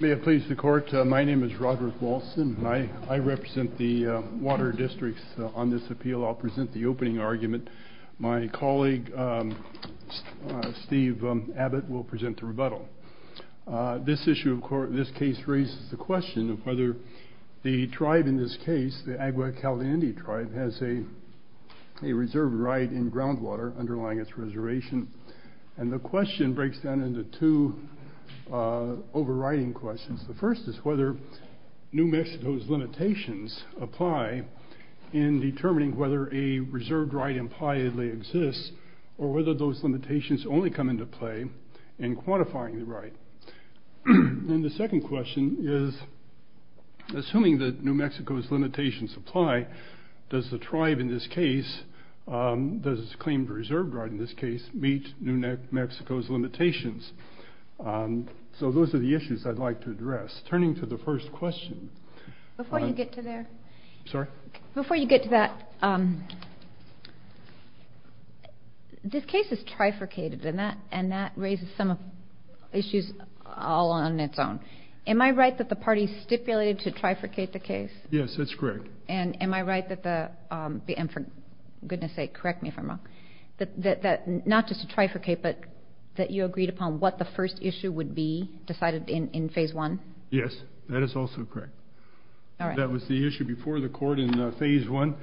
May it please the court, my name is Roderick Walson. I represent the water districts on this appeal. I'll present the opening argument. My colleague Steve Abbott will present the rebuttal. This issue, of course, this case raises the question of whether the tribe in this case, the Agua Caliente tribe, has a reserve right in groundwater underlying its reservation. And the question breaks down into two overriding questions. The first is whether New Mexico's limitations apply in determining whether a reserved right impliedly exists or whether those limitations only come into play in quantifying the right. And the second question is, assuming that New Mexico's limitations apply, does the tribe in this case, does its claim to reserved right in this case, meet New Mexico's limitations? So those are the issues I'd like to address. Turning to the first question. Before you get to that, this case is trifurcated and that raises some issues all on its own. Am I right that the party stipulated to trifurcate the case? Yes, that's correct. And am I right that the, and for goodness upon what the first issue would be decided in phase one? Yes, that is also correct. That was the issue before the court in phase one.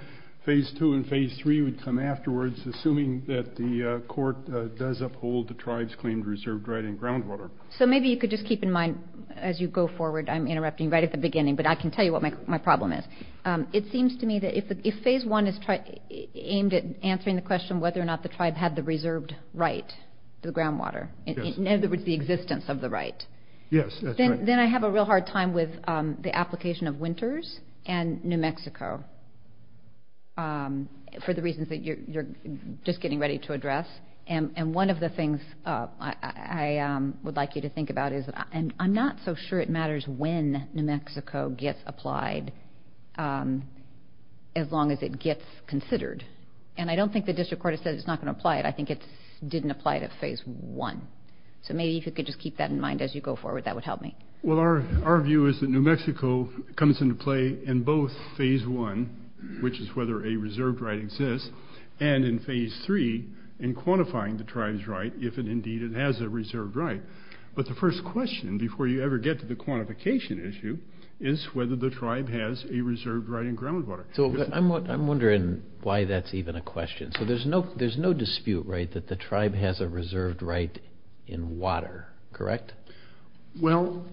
Phase two and phase three would come afterwards, assuming that the court does uphold the tribe's claimed reserved right in groundwater. So maybe you could just keep in mind, as you go forward, I'm interrupting right at the beginning, but I can tell you what my problem is. It seems to me that if phase one is aimed at answering the question, in other words, the existence of the right, then I have a real hard time with the application of winters and New Mexico for the reasons that you're just getting ready to address. And one of the things I would like you to think about is, and I'm not so sure it matters when New Mexico gets applied, as long as it gets considered. And I don't think the district court has said it's not going to apply it. I think it didn't apply to phase one. So maybe you could just keep that in mind as you go forward. That would help me. Well, our view is that New Mexico comes into play in both phase one, which is whether a reserved right exists, and in phase three, in quantifying the tribe's right, if indeed it has a reserved right. But the first question, before you ever get to the quantification issue, is whether the tribe has a reserved right in groundwater. So I'm wondering why that's even a question. So there's no dispute, right, that the tribe has a reserved right in water, correct? Well,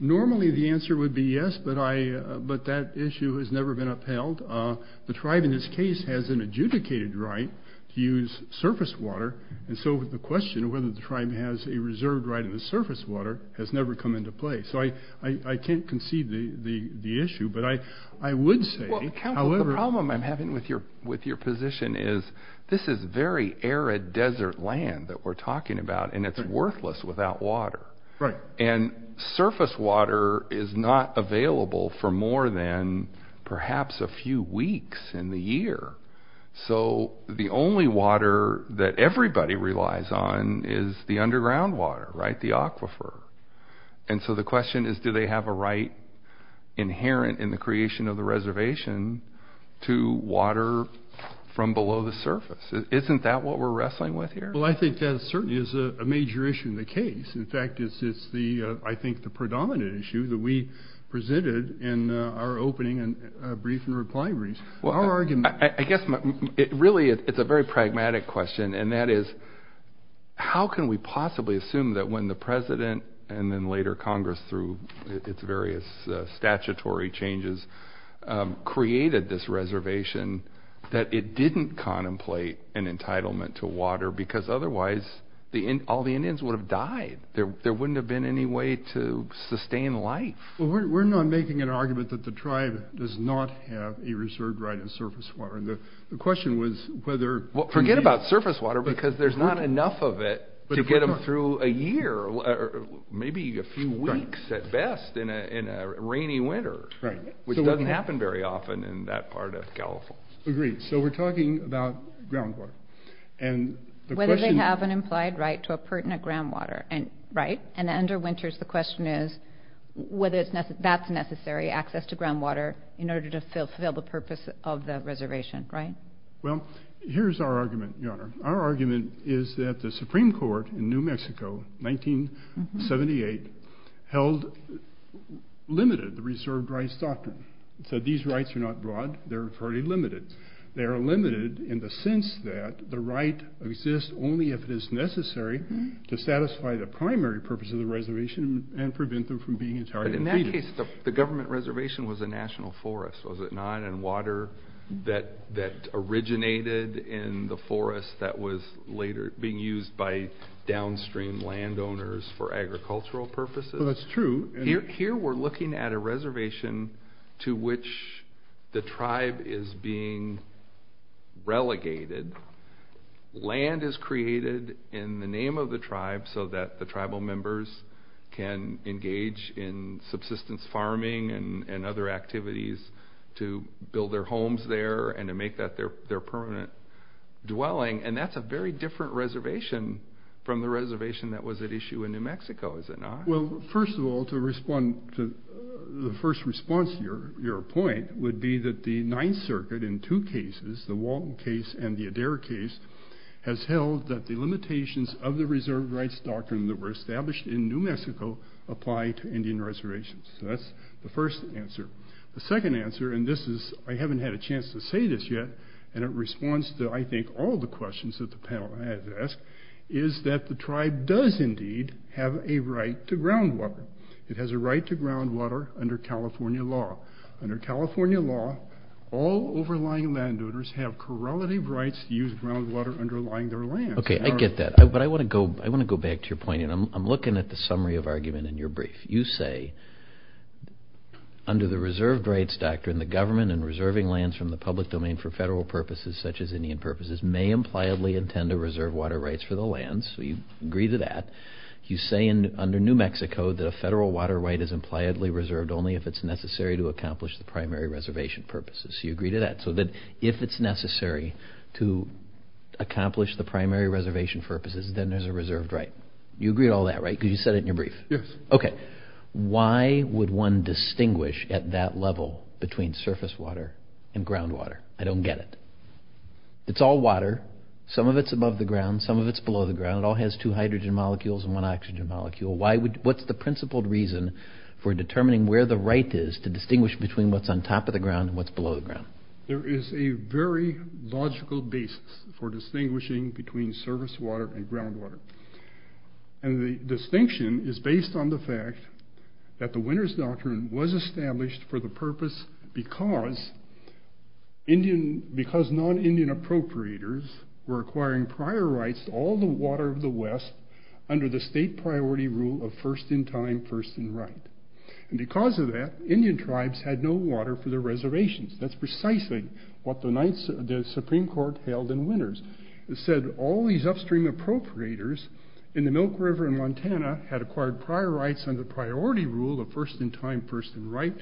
normally the answer would be yes, but that issue has never been upheld. The tribe, in this case, has an adjudicated right to use surface water, and so the question of whether the tribe has a reserved right in the surface water has never come into play. So I can't concede the issue, but I would say, however… Well, Council, the problem I'm having with your position is, this is very arid desert land that we're talking about, and it's worthless without water. Right. And surface water is not available for more than perhaps a few weeks in the year. So the only water that everybody relies on is the underground water, right, the aquifer. And so the question is, do they have a right inherent in the creation of the reservation to water from below the surface? Isn't that what we're wrestling with here? Well, I think that certainly is a major issue in the case. In fact, it's the, I think, the predominant issue that we presented in our opening and brief and reply briefs. Our argument… I guess, really, it's a very pragmatic question, and that is, how can we possibly assume that when the President and then later Congress, through its various statutory changes, created this reservation, that it didn't contemplate an entitlement to water? Because otherwise, all the Indians would have died. There wouldn't have been any way to sustain life. Well, we're not making an argument that the tribe does not have a reserved right in surface water. And the question was whether… Well, forget about surface water, because there's not enough of it to get them through a year, or maybe a few weeks at best, in a rainy winter, which doesn't happen very often in that part of California. Agreed. So we're talking about groundwater. And the question… Whether they have an implied right to a pertinent groundwater, right? And under winters, the question is whether that's necessary, access to groundwater, in order to fulfill the purpose of the reservation, right? Well, here's our argument, Your Honor. Our Supreme Court, in New Mexico, 1978, held limited the reserved rights doctrine. It said these rights are not broad, they're fairly limited. They are limited in the sense that the right exists only if it is necessary to satisfy the primary purpose of the reservation and prevent them from being entirely defeated. But in that case, the government reservation was a national forest, was it not? And water that was used by downstream landowners for agricultural purposes. Well, that's true. Here we're looking at a reservation to which the tribe is being relegated. Land is created in the name of the tribe so that the tribal members can engage in subsistence farming and other activities to build their homes there and to make that their permanent dwelling. And that's a very different reservation from the reservation that was at issue in New Mexico, is it not? Well, first of all, to respond to the first response to your point would be that the Ninth Circuit, in two cases, the Walton case and the Adair case, has held that the limitations of the reserved rights doctrine that were established in New Mexico apply to Indian reservations. So that's the first answer. The second answer, and this is, I haven't had a chance to say this yet, and it responds to, I think, all the questions that the panel has asked, is that the tribe does, indeed, have a right to groundwater. It has a right to groundwater under California law. Under California law, all overlying landowners have correlative rights to use groundwater underlying their land. Okay, I get that. But I want to go back to your point, and I'm looking at the summary of argument in your brief. You say, under the reserved rights doctrine, the government, in reserving lands from the public domain for federal purposes, such as Indian purposes, may impliedly intend to reserve water rights for the lands. So you agree to that. You say, under New Mexico, that a federal water right is impliedly reserved only if it's necessary to accomplish the primary reservation purposes. So you agree to that. So that, if it's necessary to accomplish the primary reservation purposes, then there's a reserved right. You agree to all that, right? Because you said it in your brief. Yes. Okay. Why would one distinguish at that level between surface water and groundwater? I don't get it. It's all water. Some of it's above the ground. Some of it's below the ground. It all has two hydrogen molecules and one oxygen molecule. What's the principled reason for determining where the right is to distinguish between what's on top of the ground and what's below the ground? There is a very logical basis for distinguishing between surface water and groundwater. It was established for the purpose because non-Indian appropriators were acquiring prior rights to all the water of the West under the state priority rule of first in time, first in right. And because of that, Indian tribes had no water for their reservations. That's precisely what the Supreme Court held in Winters. It said all these upstream appropriators in the Milk River in Montana had acquired prior rights under priority rule of first in time, first in right.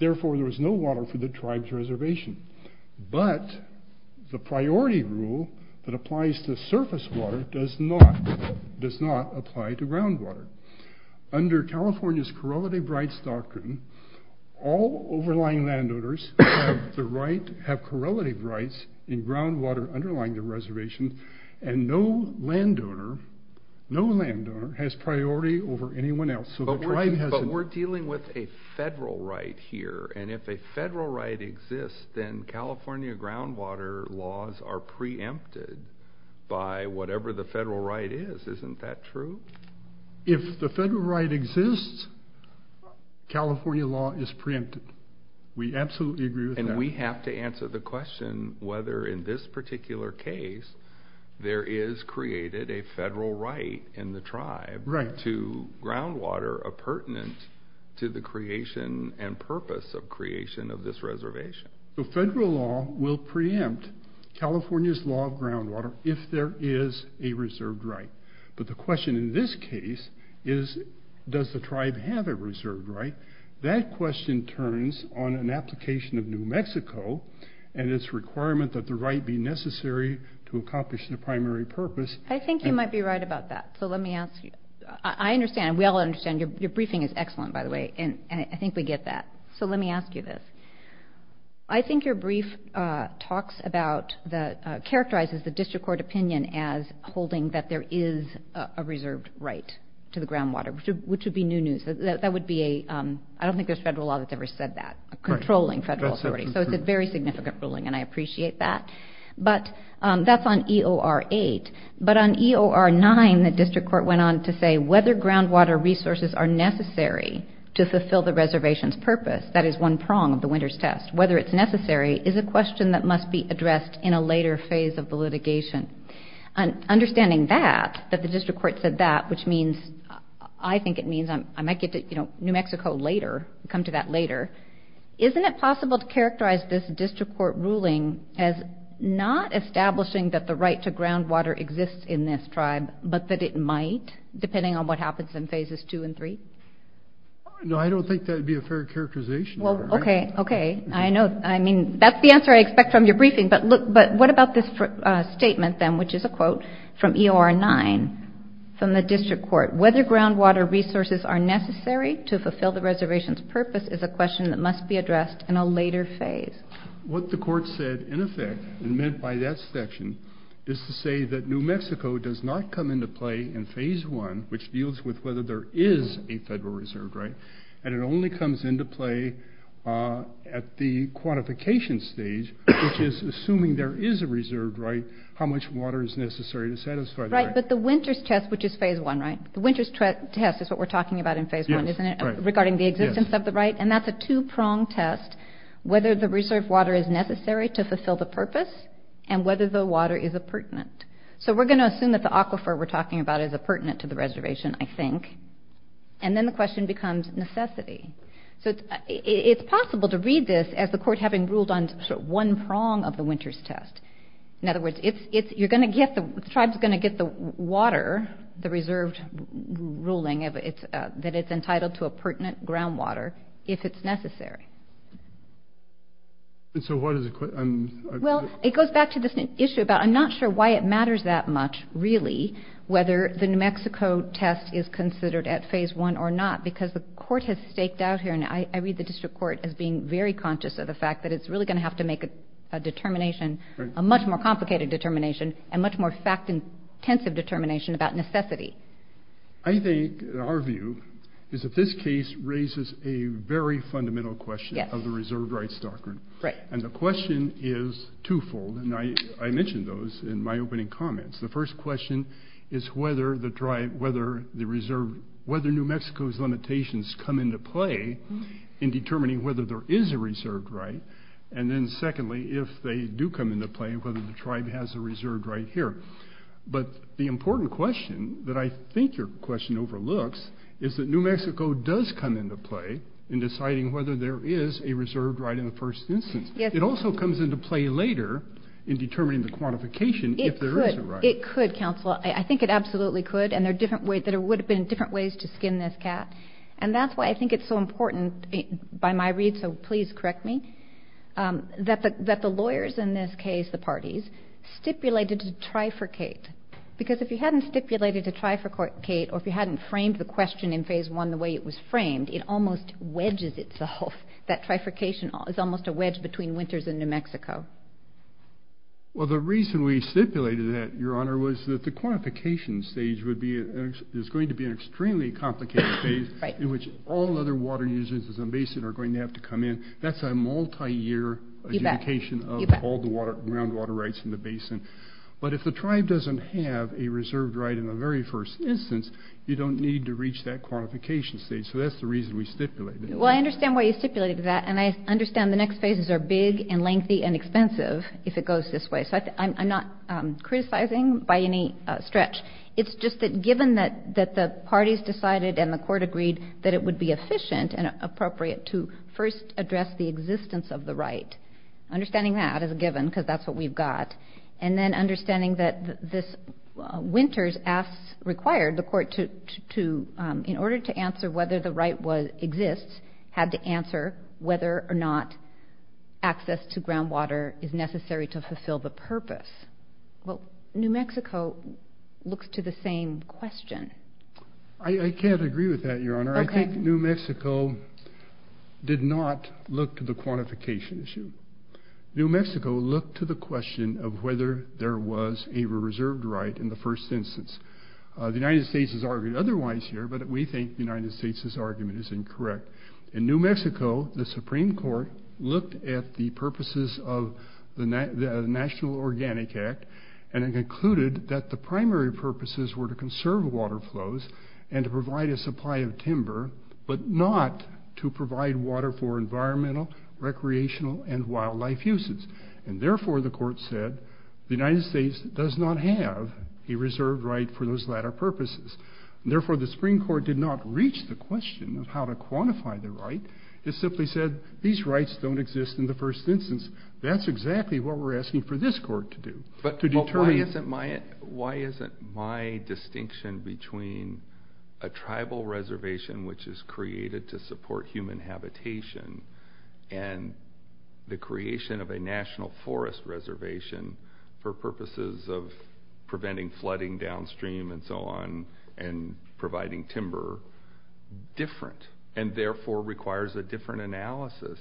Therefore, there was no water for the tribe's reservation. But the priority rule that applies to surface water does not apply to groundwater. Under California's correlative rights doctrine, all overlying landowners have correlative rights in groundwater underlying the reservation, and no landowner has priority over anyone else. But we're dealing with a federal right here, and if a federal right exists, then California groundwater laws are preempted by whatever the federal right is. Isn't that true? If the federal right exists, California law is preempted. We absolutely agree with that. And we have to answer the question whether in this particular case there is created a federal right in the tribe to groundwater a pertinent to the creation and purpose of creation of this reservation. The federal law will preempt California's law of groundwater if there is a reserved right. But the question in this case is, does the tribe have a reserved right? That question turns on an application of New Mexico and its requirement that the right be necessary to accomplish the primary purpose. I think you might be right about that. So let me ask you. I understand, we all understand, your briefing is excellent, by the way, and I think we get that. So let me ask you this. I think your brief talks about, characterizes the district court opinion as holding that there is a reserved right to the groundwater, which would be new news. That would be a, I don't think there's federal law that's ever said that, controlling federal authority. So it's a very significant ruling and I appreciate that. But that's on EOR 8. But on EOR 9, the district court went on to say, whether groundwater resources are necessary to fulfill the reservation's purpose, that is one prong of the Winters Test, whether it's necessary is a question that must be addressed in a later phase of the litigation. Understanding that, that the district court said that, which means, I think it means, I might get to, you know, New Mexico later, come to that later. Isn't it possible to characterize this district court ruling as not establishing that the right to groundwater exists in this tribe, but that it might, depending on what happens in phases 2 and 3? No, I don't think that would be a fair characterization. Well, okay, okay. I know, I mean, that's the answer I expect from your briefing. But look, but what about this statement then, which is a quote from EOR 9, from the district court, whether groundwater resources are necessary to fulfill the right? What the court said, in effect, and meant by that section, is to say that New Mexico does not come into play in phase 1, which deals with whether there is a federal reserve right, and it only comes into play at the quantification stage, which is assuming there is a reserve right, how much water is necessary to satisfy the right. Right, but the Winters Test, which is phase 1, right? The Winters Test is what we're talking about in phase 1, isn't it? Right. Regarding the existence of the right, and that's a two-prong test, whether the reserve water is necessary to fulfill the purpose, and whether the water is appurtenant. So we're going to assume that the aquifer we're talking about is appurtenant to the reservation, I think, and then the question becomes necessity. So it's possible to read this as the court having ruled on one prong of the Winters Test. In other words, it's, you're going to get, the tribe's going to get the water, the reserved ruling, that it's entitled to a pertinent groundwater if it's necessary. And so what is it? Well, it goes back to this issue about, I'm not sure why it matters that much, really, whether the New Mexico test is considered at phase 1 or not, because the court has staked out here, and I read the district court as being very conscious of the fact that it's really going to have to make a determination, a much more complicated determination, and much more intensive determination about necessity. I think, in our view, is that this case raises a very fundamental question of the reserved rights doctrine, and the question is twofold, and I mentioned those in my opening comments. The first question is whether the tribe, whether the reserve, whether New Mexico's limitations come into play in determining whether there is a reserved right, and then secondly, if they do come into play, whether the tribe has a right to do so. But the important question that I think your question overlooks is that New Mexico does come into play in deciding whether there is a reserved right in the first instance. Yes. It also comes into play later in determining the quantification if there is a right. It could, counsel. I think it absolutely could, and there are different ways, that it would have been different ways to skin this cat, and that's why I think it's so important, by my read, so please correct me, that the lawyers in this case, the parties, stipulated to trifurcate. Because if you hadn't stipulated to trifurcate, or if you hadn't framed the question in phase one the way it was framed, it almost wedges itself. That trifurcation is almost a wedge between winters and New Mexico. Well, the reason we stipulated that, your honor, was that the quantification stage would be... There's going to be an extremely complicated phase in which all other water uses in the basin are going to have to come in. That's a multi year... You bet. ...adjudication of all the groundwater rights in the basin. But if the tribe doesn't have a reserved right in the very first instance, you don't need to reach that quantification stage. So that's the reason we stipulated. Well, I understand why you stipulated that, and I understand the next phases are big and lengthy and expensive, if it goes this way. So I'm not criticizing by any stretch. It's just that given that the parties decided and the court agreed that it would be efficient and appropriate to first address the existence of the right, understanding that as a given, because that's what we've got, and then understanding that this winters asks... Required the court to, in order to answer whether the right exists, had to answer whether or not access to groundwater is necessary to fulfill the purpose. Well, New Mexico looks to the same question. I can't agree with that, Your Honor. I think New Mexico did not look to the quantification issue. New Mexico looked to the question of whether there was a reserved right in the first instance. The United States has argued otherwise here, but we think the United States' argument is incorrect. In New Mexico, the Supreme Court looked at the purposes of the National Organic Act, and it concluded that the primary purposes were to conserve water flows and to provide a supply of timber, but not to provide water for environmental, recreational, and wildlife uses. And therefore, the court said, the United States does not have a reserved right for those latter purposes. And therefore, the Supreme Court did not reach the question of how to quantify the right. It simply said, these rights don't exist in the first instance. That's exactly what we're asking for this court to do. But to determine... Why isn't my distinction between a tribal reservation, which is created to support human habitation, and the creation of a national forest reservation for purposes of preventing flooding downstream and so on, and providing timber different, and therefore requires a different analysis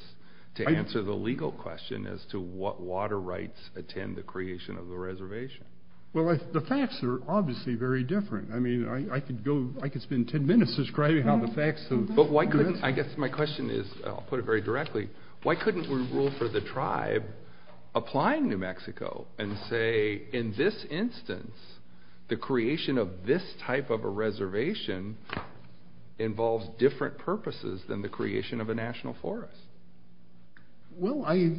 to answer the legal question as to what water rights attend the creation of the reservation? Well, the facts are obviously very different. I mean, I could spend 10 minutes describing how the facts... But why couldn't... I guess my question is, I'll put it very directly, why couldn't we rule for the tribe applying New Mexico and say, in this instance, the creation of this type of a reservation involves different purposes than the creation of a national forest? Well, I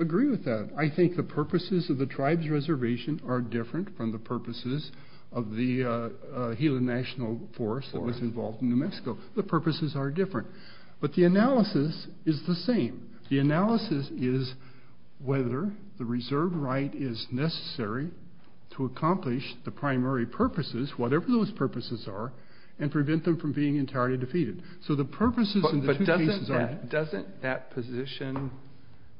agree with that. I think the purposes of the tribe's reservation are different from the purposes of the Gila National Forest that was involved in New Mexico. The purposes are different. But the analysis is the same. The analysis is whether the reserved right is necessary to accomplish the task, and prevent them from being entirely defeated. So the purposes in the two cases are... But doesn't that position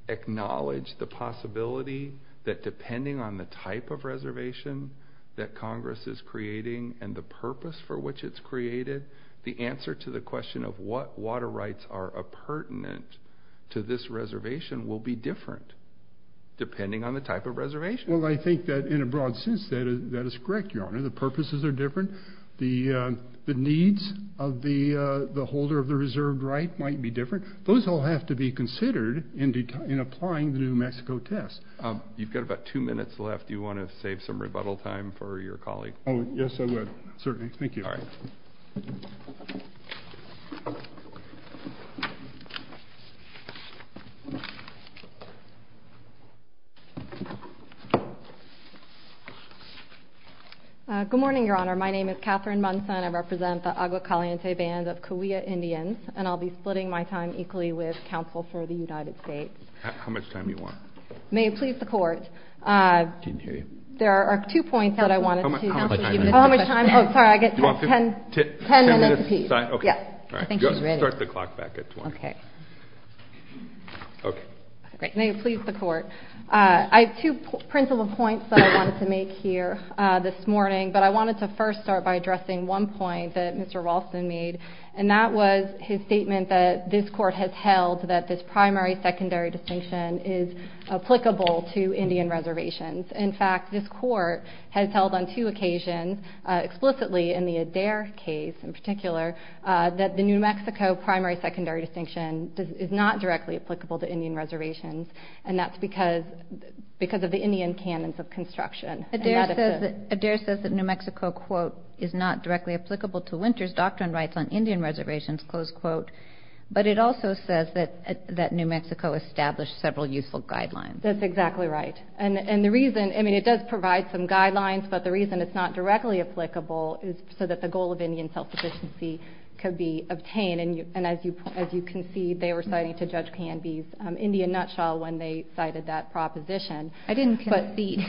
acknowledge the possibility that depending on the type of reservation that Congress is creating, and the purpose for which it's created, the answer to the question of what water rights are appurtenant to this reservation will be different, depending on the type of reservation? Well, I think that in a broad sense, that is correct, Your Honor. The purposes are different. The needs of the holder of the reserved right might be different. Those all have to be considered in applying the New Mexico test. You've got about two minutes left. Do you wanna save some rebuttal time for your colleague? Oh, yes, I would. Certainly. Thank you. Alright. Good morning, Your Honor. My name is Catherine Munson. I represent the Agua Caliente Band of Cahuilla Indians, and I'll be splitting my time equally with counsel for the United States. How much time do you want? May it please the court. I didn't hear you. There are two points that I wanted to... How much time? Oh, sorry. I get 10 minutes to speak. 10 minutes? Okay. Yeah. Thank you. Start the clock back at 20. Okay. Okay. Great. May it please the court. I have two principal points that I wanted to make here this morning, but I wanted to first start by addressing one point that Mr. Walson made, and that was his statement that this court has held that this primary secondary distinction is applicable to Indian reservations. In fact, this court has held on two occasions, explicitly in the Adair case in particular, that the New Mexico primary secondary distinction is not directly applicable to Indian canons of construction. Adair says that New Mexico, quote, is not directly applicable to winter's doctrine rights on Indian reservations, close quote, but it also says that New Mexico established several useful guidelines. That's exactly right. And the reason... It does provide some guidelines, but the reason it's not directly applicable is so that the goal of Indian self sufficiency could be obtained. And as you can see, they were citing to Judge Canby's Indian nutshell when they cited that deed. I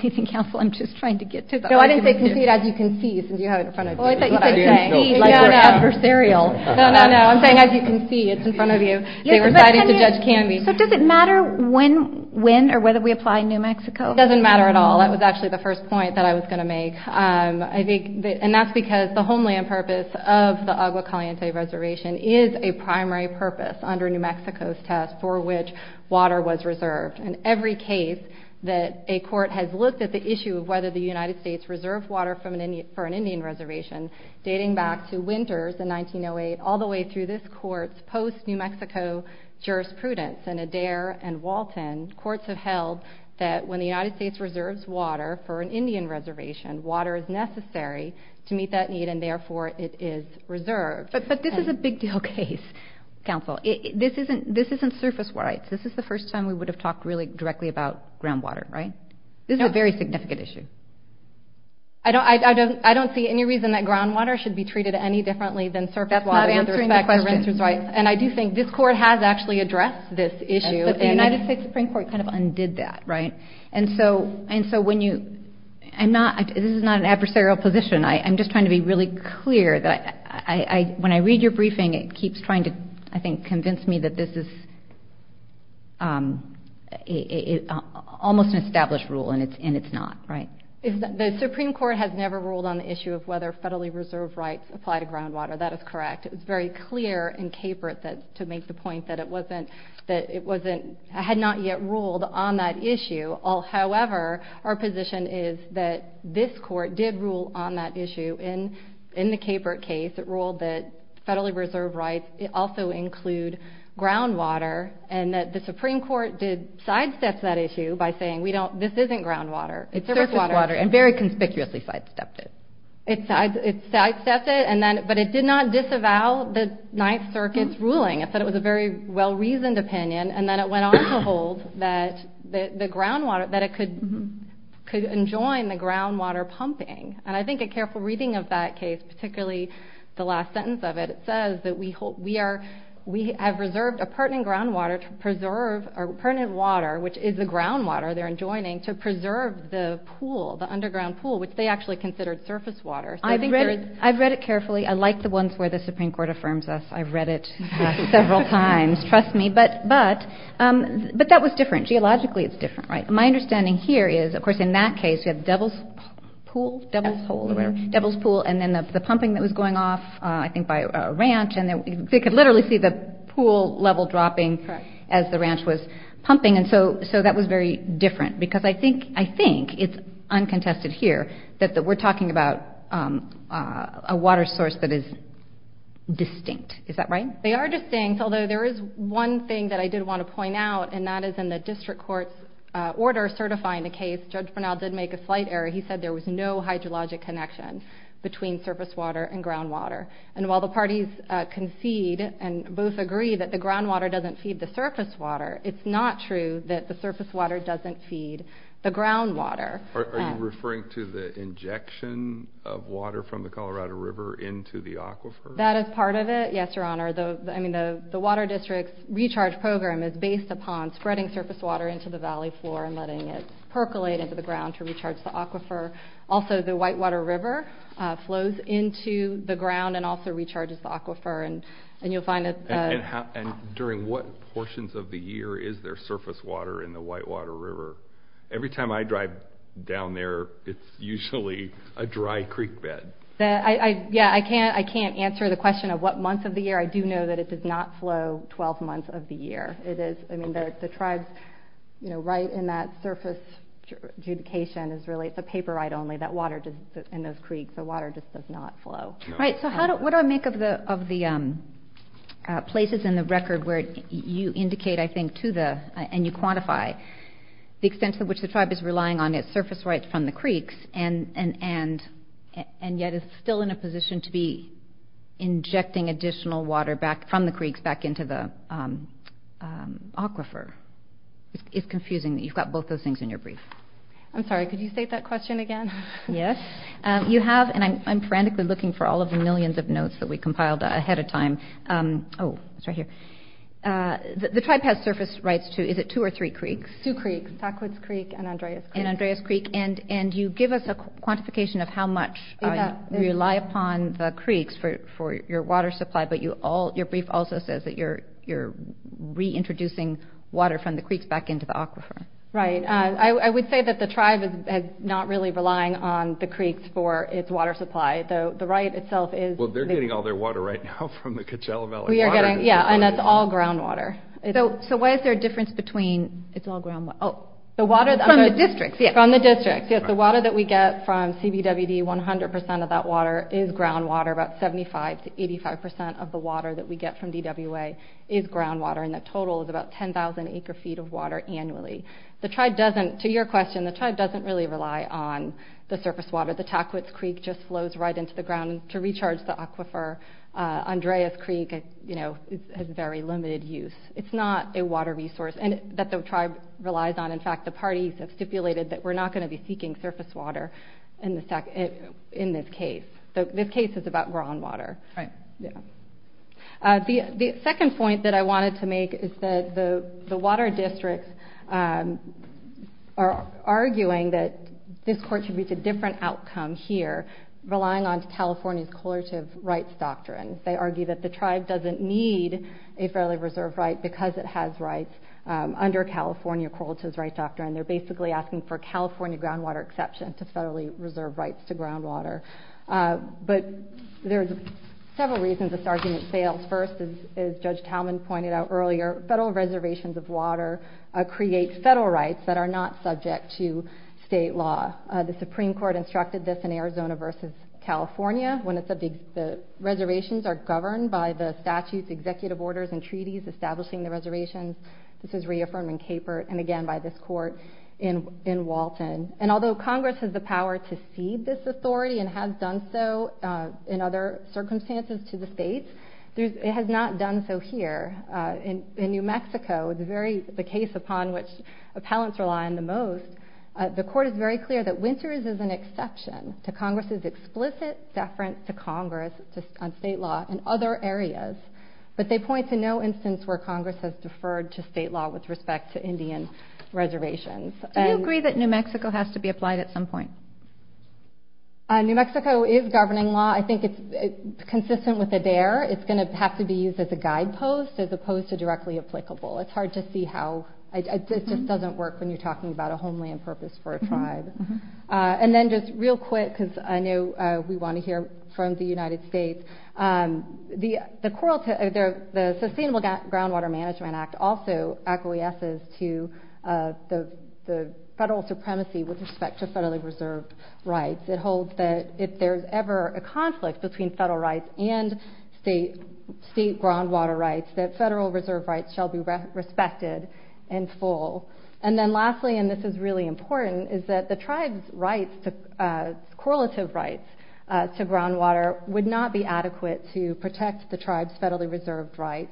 think counsel, I'm just trying to get to that. No, I didn't say concede, as you can see, since you have it in front of you. That's what I was saying. No, no. No, no. I'm saying as you can see, it's in front of you. They were citing to Judge Canby's. So does it matter when or whether we apply New Mexico? It doesn't matter at all. That was actually the first point that I was gonna make. And that's because the homeland purpose of the Agua Caliente reservation is a primary purpose under New Mexico's test for which water was reserved. And every case that a court has looked at the issue of whether the United States reserved water for an Indian reservation, dating back to Winters in 1908, all the way through this court's post New Mexico jurisprudence in Adair and Walton, courts have held that when the United States reserves water for an Indian reservation, water is necessary to meet that need and therefore it is reserved. But this is a big deal case, counsel. This isn't surface water. This is the first time we would have talked really directly about groundwater, right? This is a very significant issue. I don't see any reason that groundwater should be treated any differently than surface water. That's not answering the question. And I do think this court has actually addressed this issue. But the United States Supreme Court kind of undid that, right? And so when you... This is not an adversarial position. I'm just trying to be really clear that when I read your briefing, it keeps trying to, I think, convince me that this is almost an established rule and it's not, right? The Supreme Court has never ruled on the issue of whether federally reserved rights apply to groundwater. That is correct. It was very clear in Capert to make the point that it wasn't... Had not yet ruled on that issue. However, our position is that this court did rule on that issue. In the Capert case, it ruled that federally reserved rights also include groundwater and that the Supreme Court did sidestep that issue by saying, this isn't groundwater, it's surface water. It's surface water and very conspicuously sidestepped it. It sidestepped it, but it did not disavow the Ninth Circuit's ruling. It said it was a very well reasoned opinion and then it went on to hold that the groundwater, that it could enjoin the groundwater pumping. And I think a careful reading of that case, particularly the last sentence of it, it says that we have reserved a pertinent groundwater to preserve... Or pertinent water, which is the groundwater they're enjoining, to preserve the pool, the underground pool, which they actually considered surface water. I've read it carefully. I like the ones where the Supreme Court affirms us. I've read it several times, trust me. But that was different. Geologically, it's different, right? My understanding here is, of course, in that case, you have the Devil's Pool? Devil's Hole? Devil's Pool, and then the pumping that was going off, I think by a ranch, and they could literally see the pool level dropping as the ranch was pumping. And so that was very different, because I think it's uncontested here that we're talking about a water source that is distinct. Is that right? They are distinct, although there is one thing that I did wanna point out, and that is in the District Court's order certifying the case, Judge Bernal did make a slight error. He said there was no hydrologic connection between surface water and groundwater. And while the parties concede and both agree that the groundwater doesn't feed the surface water, it's not true that the surface water doesn't feed the groundwater. Are you referring to the injection of water from the Colorado River into the aquifer? That is part of it, yes, Your Honor. The Water District's recharge program is based upon spreading surface water into the valley floor and letting it down to recharge the aquifer. Also, the Whitewater River flows into the ground and also recharges the aquifer, and you'll find that... And during what portions of the year is there surface water in the Whitewater River? Every time I drive down there, it's usually a dry creek bed. Yeah, I can't answer the question of what month of the year. I do know that it does not flow 12 months of the year. It is... The tribes right in that surface adjudication is really... It's a paper right only that water does... In those creeks, the water just does not flow. Right, so what do I make of the places in the record where you indicate, I think, to the... And you quantify the extent to which the tribe is relying on its surface rights from the creeks, and yet is still in a position to be injecting additional water from the creeks back into the aquifer. It's confusing that you've got both those things in your brief. I'm sorry, could you state that question again? Yes. You have, and I'm frantically looking for all of the millions of notes that we compiled ahead of time. Oh, it's right here. The tribe has surface rights to, is it two or three creeks? Two creeks, Backwoods Creek and Andreas Creek. And Andreas Creek, and you give us a quantification of how much you rely upon the creeks for your water supply, but your brief also says that you're reintroducing water from the creeks back into the aquifer. Right. I would say that the tribe is not really relying on the creeks for its water supply, though the right itself is... Well, they're getting all their water right now from the Coachella Valley. We are getting, yeah, and it's all ground water. So why is there a difference between it's all ground water? Oh, the water... From the districts, yes. From the districts, yes. The water that we get from CBWD, 100% of that water is ground water, about 75% to 85% of the water that we get from DWA is ground water, and that total is about 10,000 acre feet of water annually. The tribe doesn't... To your question, the tribe doesn't really rely on the surface water. The Backwoods Creek just flows right into the ground to recharge the aquifer. Andreas Creek has very limited use. It's not a water resource that the tribe relies on. In fact, the parties have stipulated that we're not gonna be seeking surface water in this case. This case is about ground water. Right. Yeah. The second point that I wanted to make is that the water districts are arguing that this court should reach a different outcome here, relying on California's correlative rights doctrine. They argue that the tribe doesn't need a federally reserved right because it has rights under California correlative rights doctrine. They're basically asking for California groundwater exception to federally reserved rights to groundwater. But there's several reasons this argument fails. First, as Judge Talman pointed out earlier, federal reservations of water create federal rights that are not subject to state law. The Supreme Court instructed this in Arizona versus California, when it's a big... The reservations are governed by the statutes, executive orders, and treaties establishing the reservations. This is reaffirmed in Cape Verde, and again by this court in Walton. And although Congress has the power to cede this authority, and has done so in other circumstances to the states, it has not done so here. In New Mexico, the case upon which appellants rely on the most, the court is very clear that Winters is an exception to Congress's explicit deference to Congress on state law in other areas. But they point to no instance where Congress has deferred to state law with respect to Indian reservations. Do you agree that New Mexico has to be applied at some point? New Mexico is governing law. I think it's consistent with the dare. It's gonna have to be used as a guidepost, as opposed to directly applicable. It's hard to see how... It just doesn't work when you're talking about a homeland purpose for a tribe. And then just real quick, because I know we wanna hear from the United States. The Sustainable Groundwater Management Act also acquiesces to the federal supremacy with respect to federally reserved rights. It holds that if there's ever a conflict between federal rights and state groundwater rights, that federal reserve rights shall be respected in full. And then lastly, and this is really important, is that the tribe's rights to... Correlative rights to groundwater would not be adequate to protect the tribe's federally reserved rights.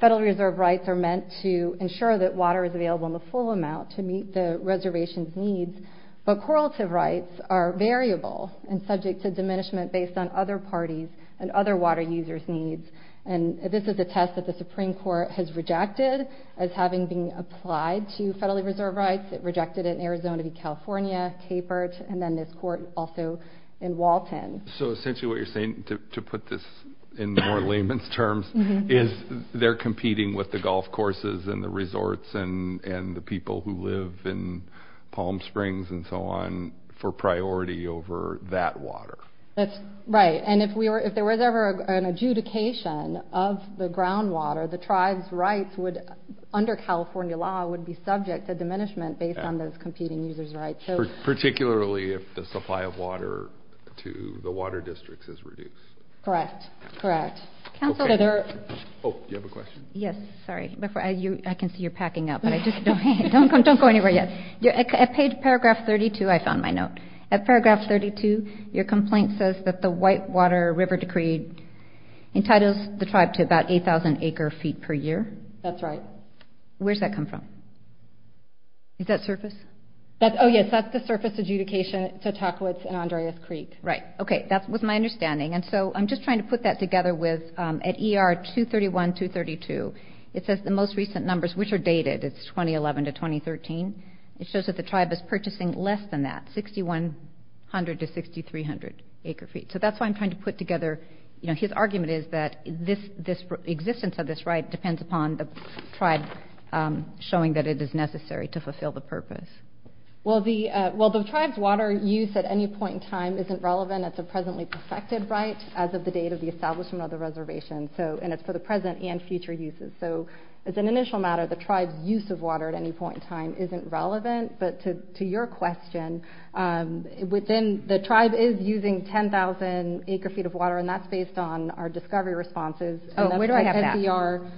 Federal reserve rights are meant to ensure that water is available in the full amount to meet the reservation's needs, but correlative rights are variable and subject to diminishment based on other parties' and other water users' needs. And this is a test that the Supreme Court has rejected as having been applied to federally reserved rights. It rejected it in Arizona v. California, Cape Verde, and then this court also in Walton. So essentially what you're saying, to put this in more layman's terms, is they're competing with the golf courses and the resorts and the people who live in Palm Springs and so on for priority over that water. That's right. And if there was ever an adjudication of the groundwater, the tribe's rights would, under California law, would be subject to diminishment based on those competing users' rights. Particularly if the supply of water to the water districts is reduced. Correct. Correct. Counselor... Oh, you have a question? Yes. Sorry. I can see you're packing up, but I just don't go anywhere yet. At paragraph 32, I found my note. At paragraph 32, your complaint says that the Whitewater River Decree entitles the tribe to about 8,000 acre feet per year. That's right. Where's that come from? Is that surface? Oh, yes. That's the surface adjudication to Takowitz and I'm understanding. And so I'm just trying to put that together with... At ER 231, 232, it says the most recent numbers, which are dated, it's 2011 to 2013. It shows that the tribe is purchasing less than that, 6,100 to 6,300 acre feet. So that's why I'm trying to put together... His argument is that this existence of this right depends upon the tribe showing that it is necessary to fulfill the purpose. Well, the tribe's water use at any point in time isn't relevant. And it's a presently perfected right as of the date of the establishment of the reservation. And it's for the present and future uses. So as an initial matter, the tribe's use of water at any point in time isn't relevant. But to your question, within... The tribe is using 10,000 acre feet of water, and that's based on our discovery responses. Oh, where do I have that? And that's NCR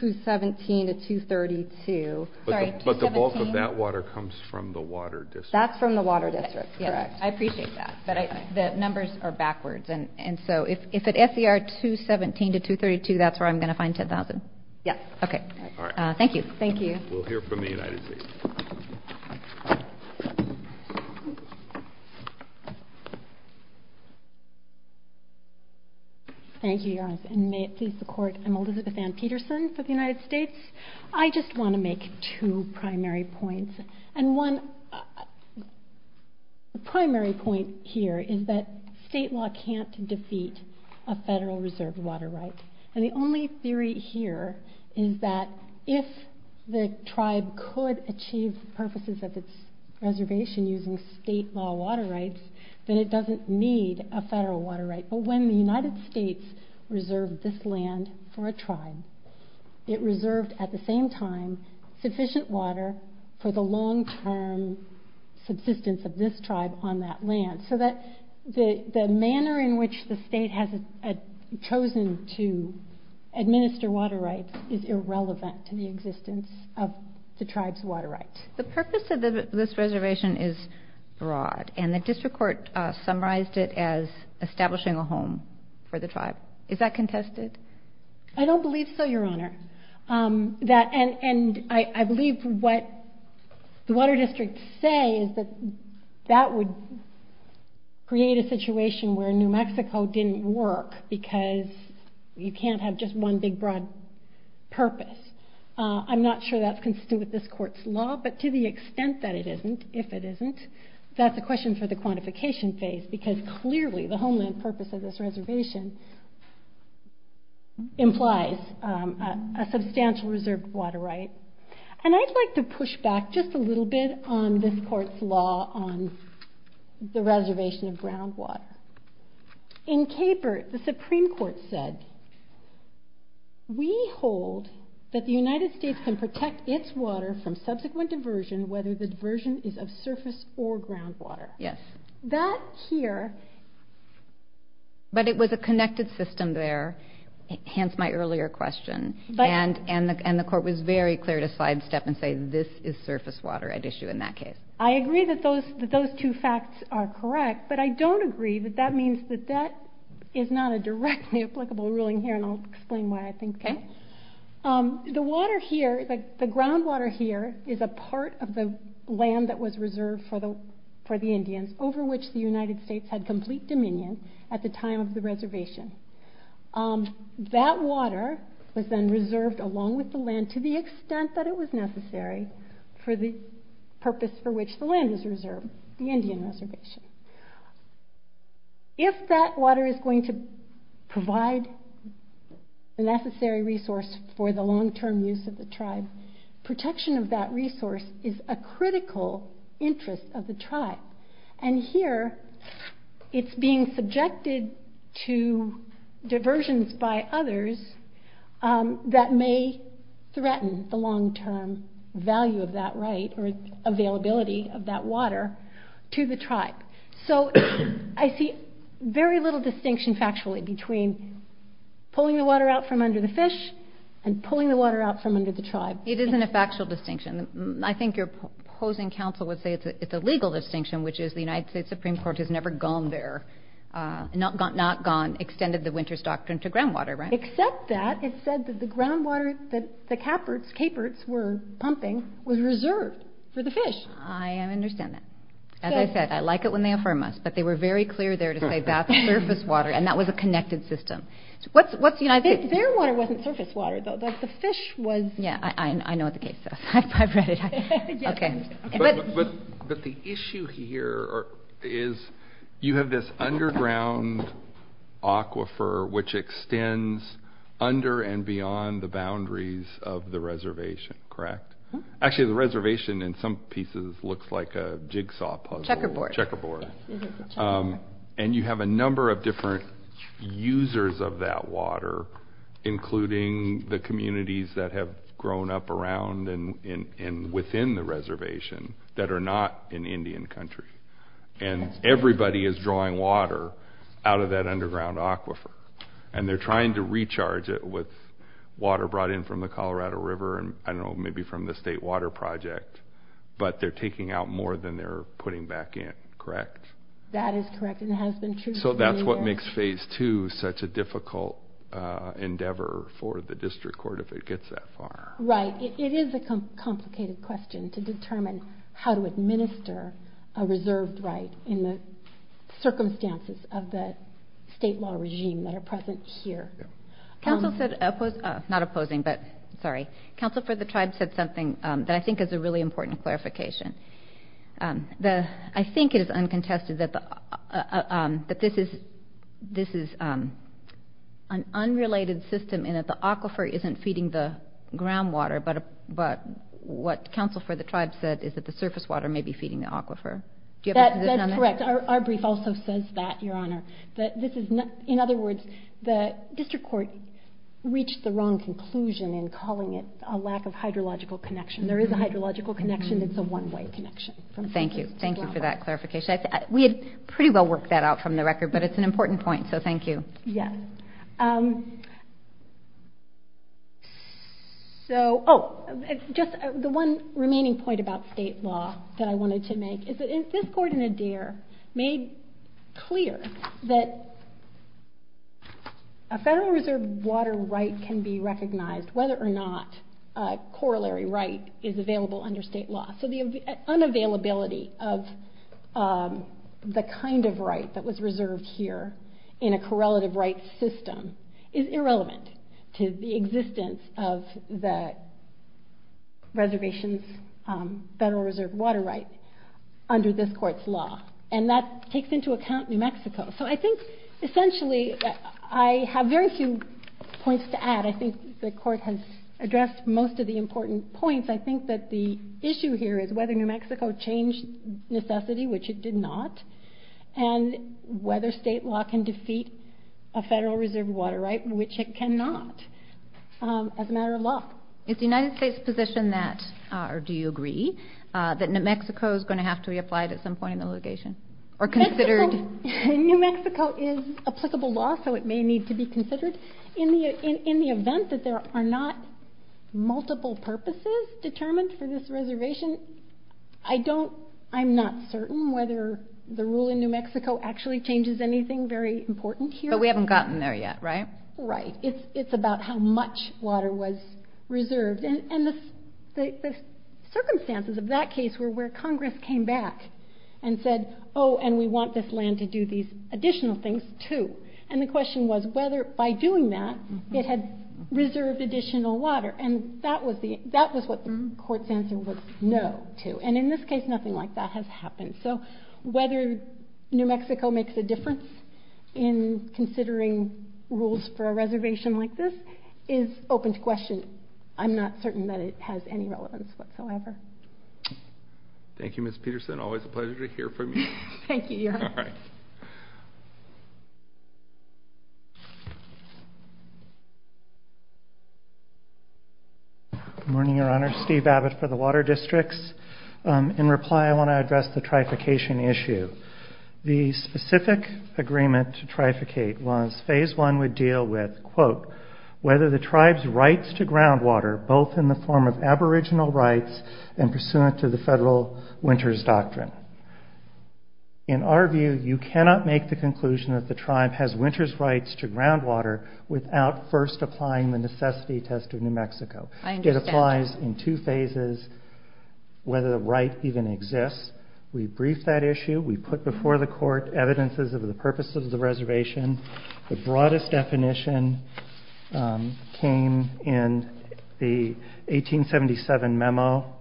217 to 232. Sorry, 217... But the bulk of that water comes from the water district. That's from the water district, correct. Yes. I appreciate that. But the numbers are backwards. And so if it's NCR 217 to 232, that's where I'm gonna find 10,000. Yeah. Okay. Alright. Thank you. Thank you. We'll hear from the United States. Thank you, Your Honor. And may it please the Court, I'm Elizabeth Ann Peterson for the United States. I just wanna make two primary points. And one... The primary point here is that state law can't defeat a federal reserve water right. And the only theory here is that if the tribe could achieve the purposes of its reservation using state law water rights, then it doesn't need a federal water right. But when the United States reserved this land for a tribe, it reserved at the same time sufficient water for the long term subsistence of this tribe on that land. So that the manner in which the state has chosen to administer water rights is irrelevant to the existence of the tribe's water rights. The purpose of this reservation is broad, and the district court summarized it as establishing a home for the tribe. Is that contested? I don't believe so, Your Honor. And I believe what the water districts say is that that would create a situation where New Mexico didn't work because you can't have just one big broad purpose. I'm not sure that's consistent with this court's law, but to the extent that it isn't, if it isn't, that's a question for the quantification phase because clearly the homeland purpose of this reservation implies a substantial reserved water right. And I'd like to push back just a little bit on this court's law on the reservation of ground water. In Capert, the Supreme Court said, we hold that the United States can protect its water from subsequent diversion whether the diversion is of surface or ground water. Yes. That here... But it was a connected system there, hence my earlier question, and the court was very clear to sidestep and say this is surface water at issue in that case. I agree that those two facts are correct, but I don't agree that that means that that is not a directly applicable ruling here, and I'll explain why I think that. The water here, the ground water here is a part of the land that was reserved for the Indians over which the United States had complete dominion at the time of the reservation. That water was then reserved along with the land to the extent that it was necessary for the purpose for which the land was reserved, the Indian reservation. If that water is going to provide the necessary resource for the long term use of the interest of the tribe, and here it's being subjected to diversions by others that may threaten the long term value of that right or availability of that water to the tribe. So I see very little distinction factually between pulling the water out from under the fish and pulling the water out from under the tribe. It isn't a factual distinction. I think you're opposing counsel would say it's a legal distinction, which is the United States Supreme Court has never gone there, not gone, extended the Winter's Doctrine to groundwater, right? Except that it said that the groundwater that the Caperts were pumping was reserved for the fish. I understand that. As I said, I like it when they affirm us, but they were very clear there to say that's surface water, and that was a connected system. Their water wasn't surface water, though. The fish was... Yeah, I know what the case is. I've read it. Okay. But the issue here is you have this underground aquifer which extends under and beyond the boundaries of the reservation, correct? Actually, the reservation in some pieces looks like a jigsaw puzzle... Checkerboard. Checkerboard. And you have a number of different users of that water, including the communities that have grown up around and within the reservation that are not in Indian country. And everybody is drawing water out of that underground aquifer. And they're trying to recharge it with water brought in from the Colorado River and, I don't know, maybe from the state water project, but they're taking out more than they're putting back in, correct? That is correct, and it has been true... That's what makes phase two such a difficult endeavor for the district court if it gets that far. Right. It is a complicated question to determine how to administer a reserved right in the circumstances of the state law regime that are present here. Council said... Not opposing, but sorry. Council for the tribe said something that I think is a really important clarification. I think it is uncontested that this is an unrelated system in that the aquifer isn't feeding the groundwater, but what council for the tribe said is that the surface water may be feeding the aquifer. Do you have a position on that? That's correct. Our brief also says that, Your Honor. In other words, the district court reached the wrong conclusion in calling it a lack of hydrological connection. There is a one-way connection. Thank you. Thank you for that clarification. We had pretty well worked that out from the record, but it's an important point, so thank you. Yes. The one remaining point about state law that I wanted to make is that this court in Adair made clear that a federal reserve water right can be recognized whether or not a corollary right is available under state law. So the unavailability of the kind of right that was reserved here in a correlative right system is irrelevant to the existence of the reservation's federal reserve water right under this court's law, and that takes into account New Mexico. So I think, essentially, I have very few points to add. I think the court has addressed most of the important points. I think that the issue here is whether New Mexico changed necessity, which it did not, and whether state law can defeat a federal reserve water right, which it cannot, as a matter of law. Is the United States' position that, or do you agree, that New Mexico is going to have to be applied at some point in the litigation? New Mexico is applicable law, so it may be considered. In the event that there are not multiple purposes determined for this reservation, I'm not certain whether the rule in New Mexico actually changes anything very important here. But we haven't gotten there yet, right? Right. It's about how much water was reserved. And the circumstances of that case were where Congress came back and said, oh, and we want this land to do these additional things, too. And the question was whether by doing that, it had reserved additional water. And that was what the court's answer was no to. And in this case, nothing like that has happened. So whether New Mexico makes a difference in considering rules for a reservation like this is open to question. I'm not certain that it has any relevance whatsoever. Thank you, Ms. Peterson. Always a pleasure to hear from you. Thank you. You're welcome. All right. Good morning, Your Honor. Steve Abbott for the Water Districts. In reply, I want to address the trification issue. The specific agreement to trificate was phase one would deal with, quote, whether the tribe's rights to groundwater, both in the form of In our view, you cannot make the conclusion that the tribe has winter's rights to groundwater without first applying the necessity test of New Mexico. It applies in two phases, whether the right even exists. We briefed that issue. We put before the court evidences of the purpose of the reservation. The broadest definition came in the 1877 memo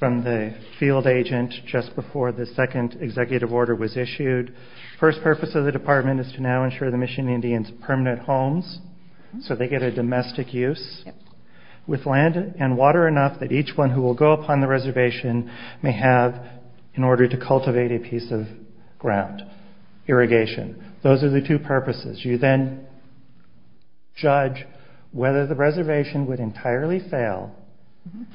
from the field agent just before the second executive order was issued. First purpose of the department is to now ensure the Michigan Indians permanent homes so they get a domestic use with land and water enough that each one who will go upon the reservation may have in order to cultivate a piece of ground, irrigation. Those are the two purposes. You then judge whether the reservation would entirely fail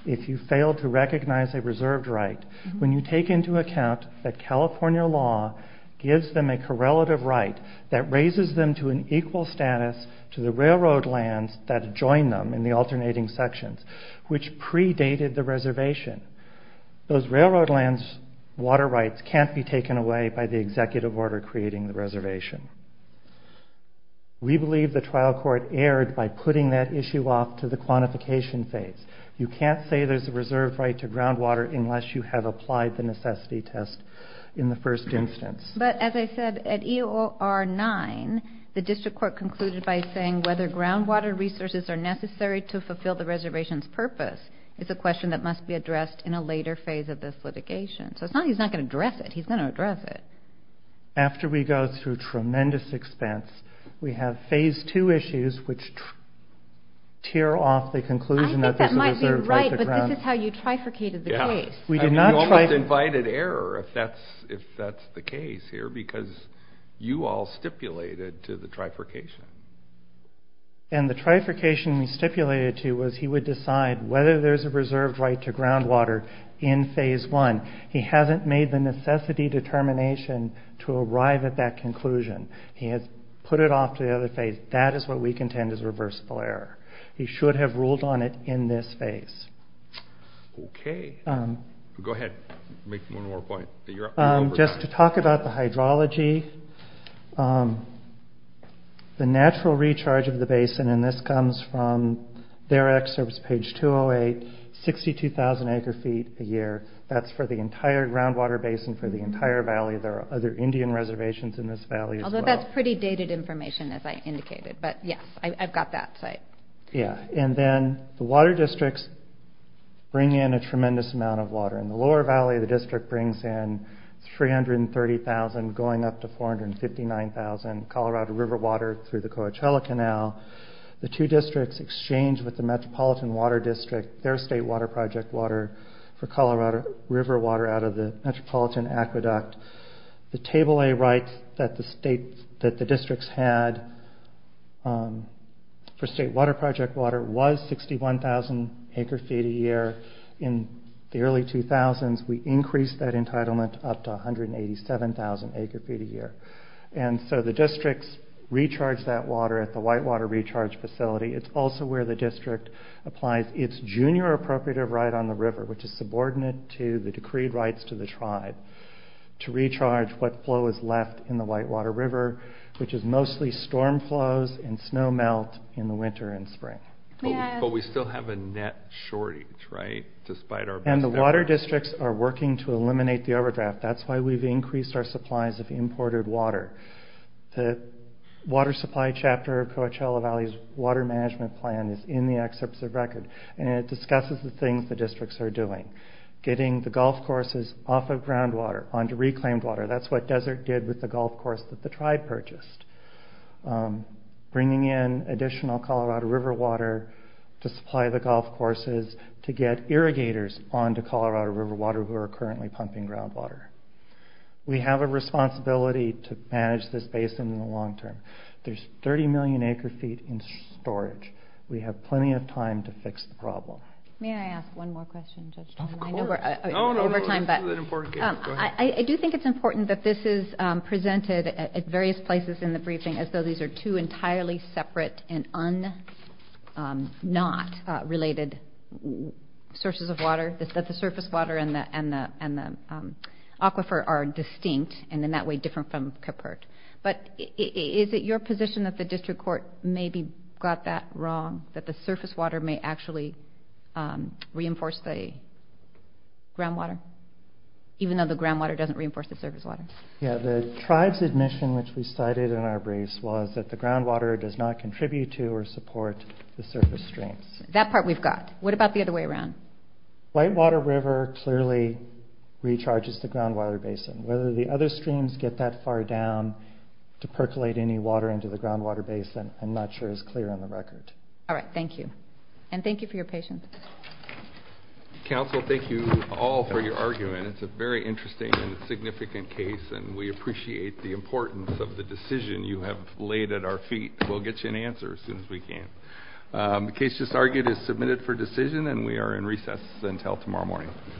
if you fail to recognize a reserved right. When you take into account that California law gives them a correlative right that raises them to an equal status to the railroad lands that join them in the alternating sections, which predated the reservation. Those railroad lands water rights can't be taken away by the executive order creating the reservation. We believe the trial court erred by putting that issue off to the quantification phase. You can't say there's a reserved right to groundwater unless you have applied the necessity test in the first instance. But as I said, at EOR9, the district court concluded by saying whether groundwater resources are necessary to fulfill the reservation's purpose is a question that must be addressed in a later phase of this litigation. So it's not he's not gonna address it, he's gonna address it. After we go through tremendous expense, we have phase two issues, which tear off the conclusion that there's a reserved right to groundwater. I think that might be right, but this is how you trifurcated the case. Yeah. We did not trifurcate... You almost invited error if that's the case here, because you all stipulated to the trifurcation. And the trifurcation we stipulated to was he would decide whether there's a reserved right to groundwater in phase one. He hasn't made the necessity determination to arrive at that conclusion. He has put it off to the other phase. That is what we contend is reversible error. He should have ruled on it in this phase. Okay. Go ahead. Make one more point that you're... Just to talk about the hydrology. The natural recharge of the basin, and this comes from their excerpts page 208, 62,000 acre feet a year. That's for the entire groundwater basin for the entire valley. There are other Indian reservations in this valley as well. Although that's pretty dated information, as I indicated. But yes, I've got that site. Yeah. And then the water districts bring in a tremendous amount of water. In the lower valley, the district brings in 330,000 going up to 459,000 Colorado River water through the Coachella Canal. The two districts exchange with the Metropolitan Water District, their state water project water, for Colorado River water out of the Metropolitan Aqueduct. The table I wrote that the districts had for state water project water was 61,000 acre feet a year. In the early 2000s, we increased that entitlement up to 187,000 acre feet a year. And so the districts recharge that water at the Whitewater Recharge Facility. It's also where the district applies its junior appropriative right on the river, which is subordinate to the decreed rights to the tribe, to recharge what flow is left in the Whitewater River, which is mostly storm flows and snow melt in the winter and spring. But we still have a net shortage, right? Despite our best efforts. And the water districts are working to eliminate the overdraft. That's why we've increased our supplies of imported water. The water supply chapter of Coachella Valley's water management plan is in the excerpts of record, and it discusses the things the districts are doing. Getting the golf courses off of groundwater onto reclaimed water. That's what Desert did with the golf course that the tribe purchased. Bringing in additional Colorado River water to supply the golf courses, to get irrigators onto Colorado River water who are currently pumping groundwater. We have a responsibility to manage this basin in the long term. There's 30 million acre feet in storage. We have plenty of time to fix the problem. May I ask one more question, Judge Toynbee? Of course. No, no, no. I do think it's important that this is presented at various places in the briefing, as though these are two entirely separate and not related sources of water. That the surface water and the aquifer are distinct, and in that way, different from Kephart. But is it your position that the district court maybe got that wrong? That the surface water may actually reinforce the groundwater, even though the groundwater doesn't reinforce the surface water? Yeah. The tribe's admission, which we cited in our briefs, was that the groundwater does not contribute to or support the surface streams. That part we've got. What about the other way around? White Water River clearly recharges the groundwater basin. Whether the other streams get that far down to percolate any water into the groundwater basin, I'm not sure is clear on the record. All right. Thank you. And thank you for your patience. Counsel, thank you all for your argument. It's a very interesting and significant case, and we appreciate the importance of the decision you have laid at our feet. We'll get you an answer as soon as we can. The case just argued is submitted for decision, and we are in recess until tomorrow morning.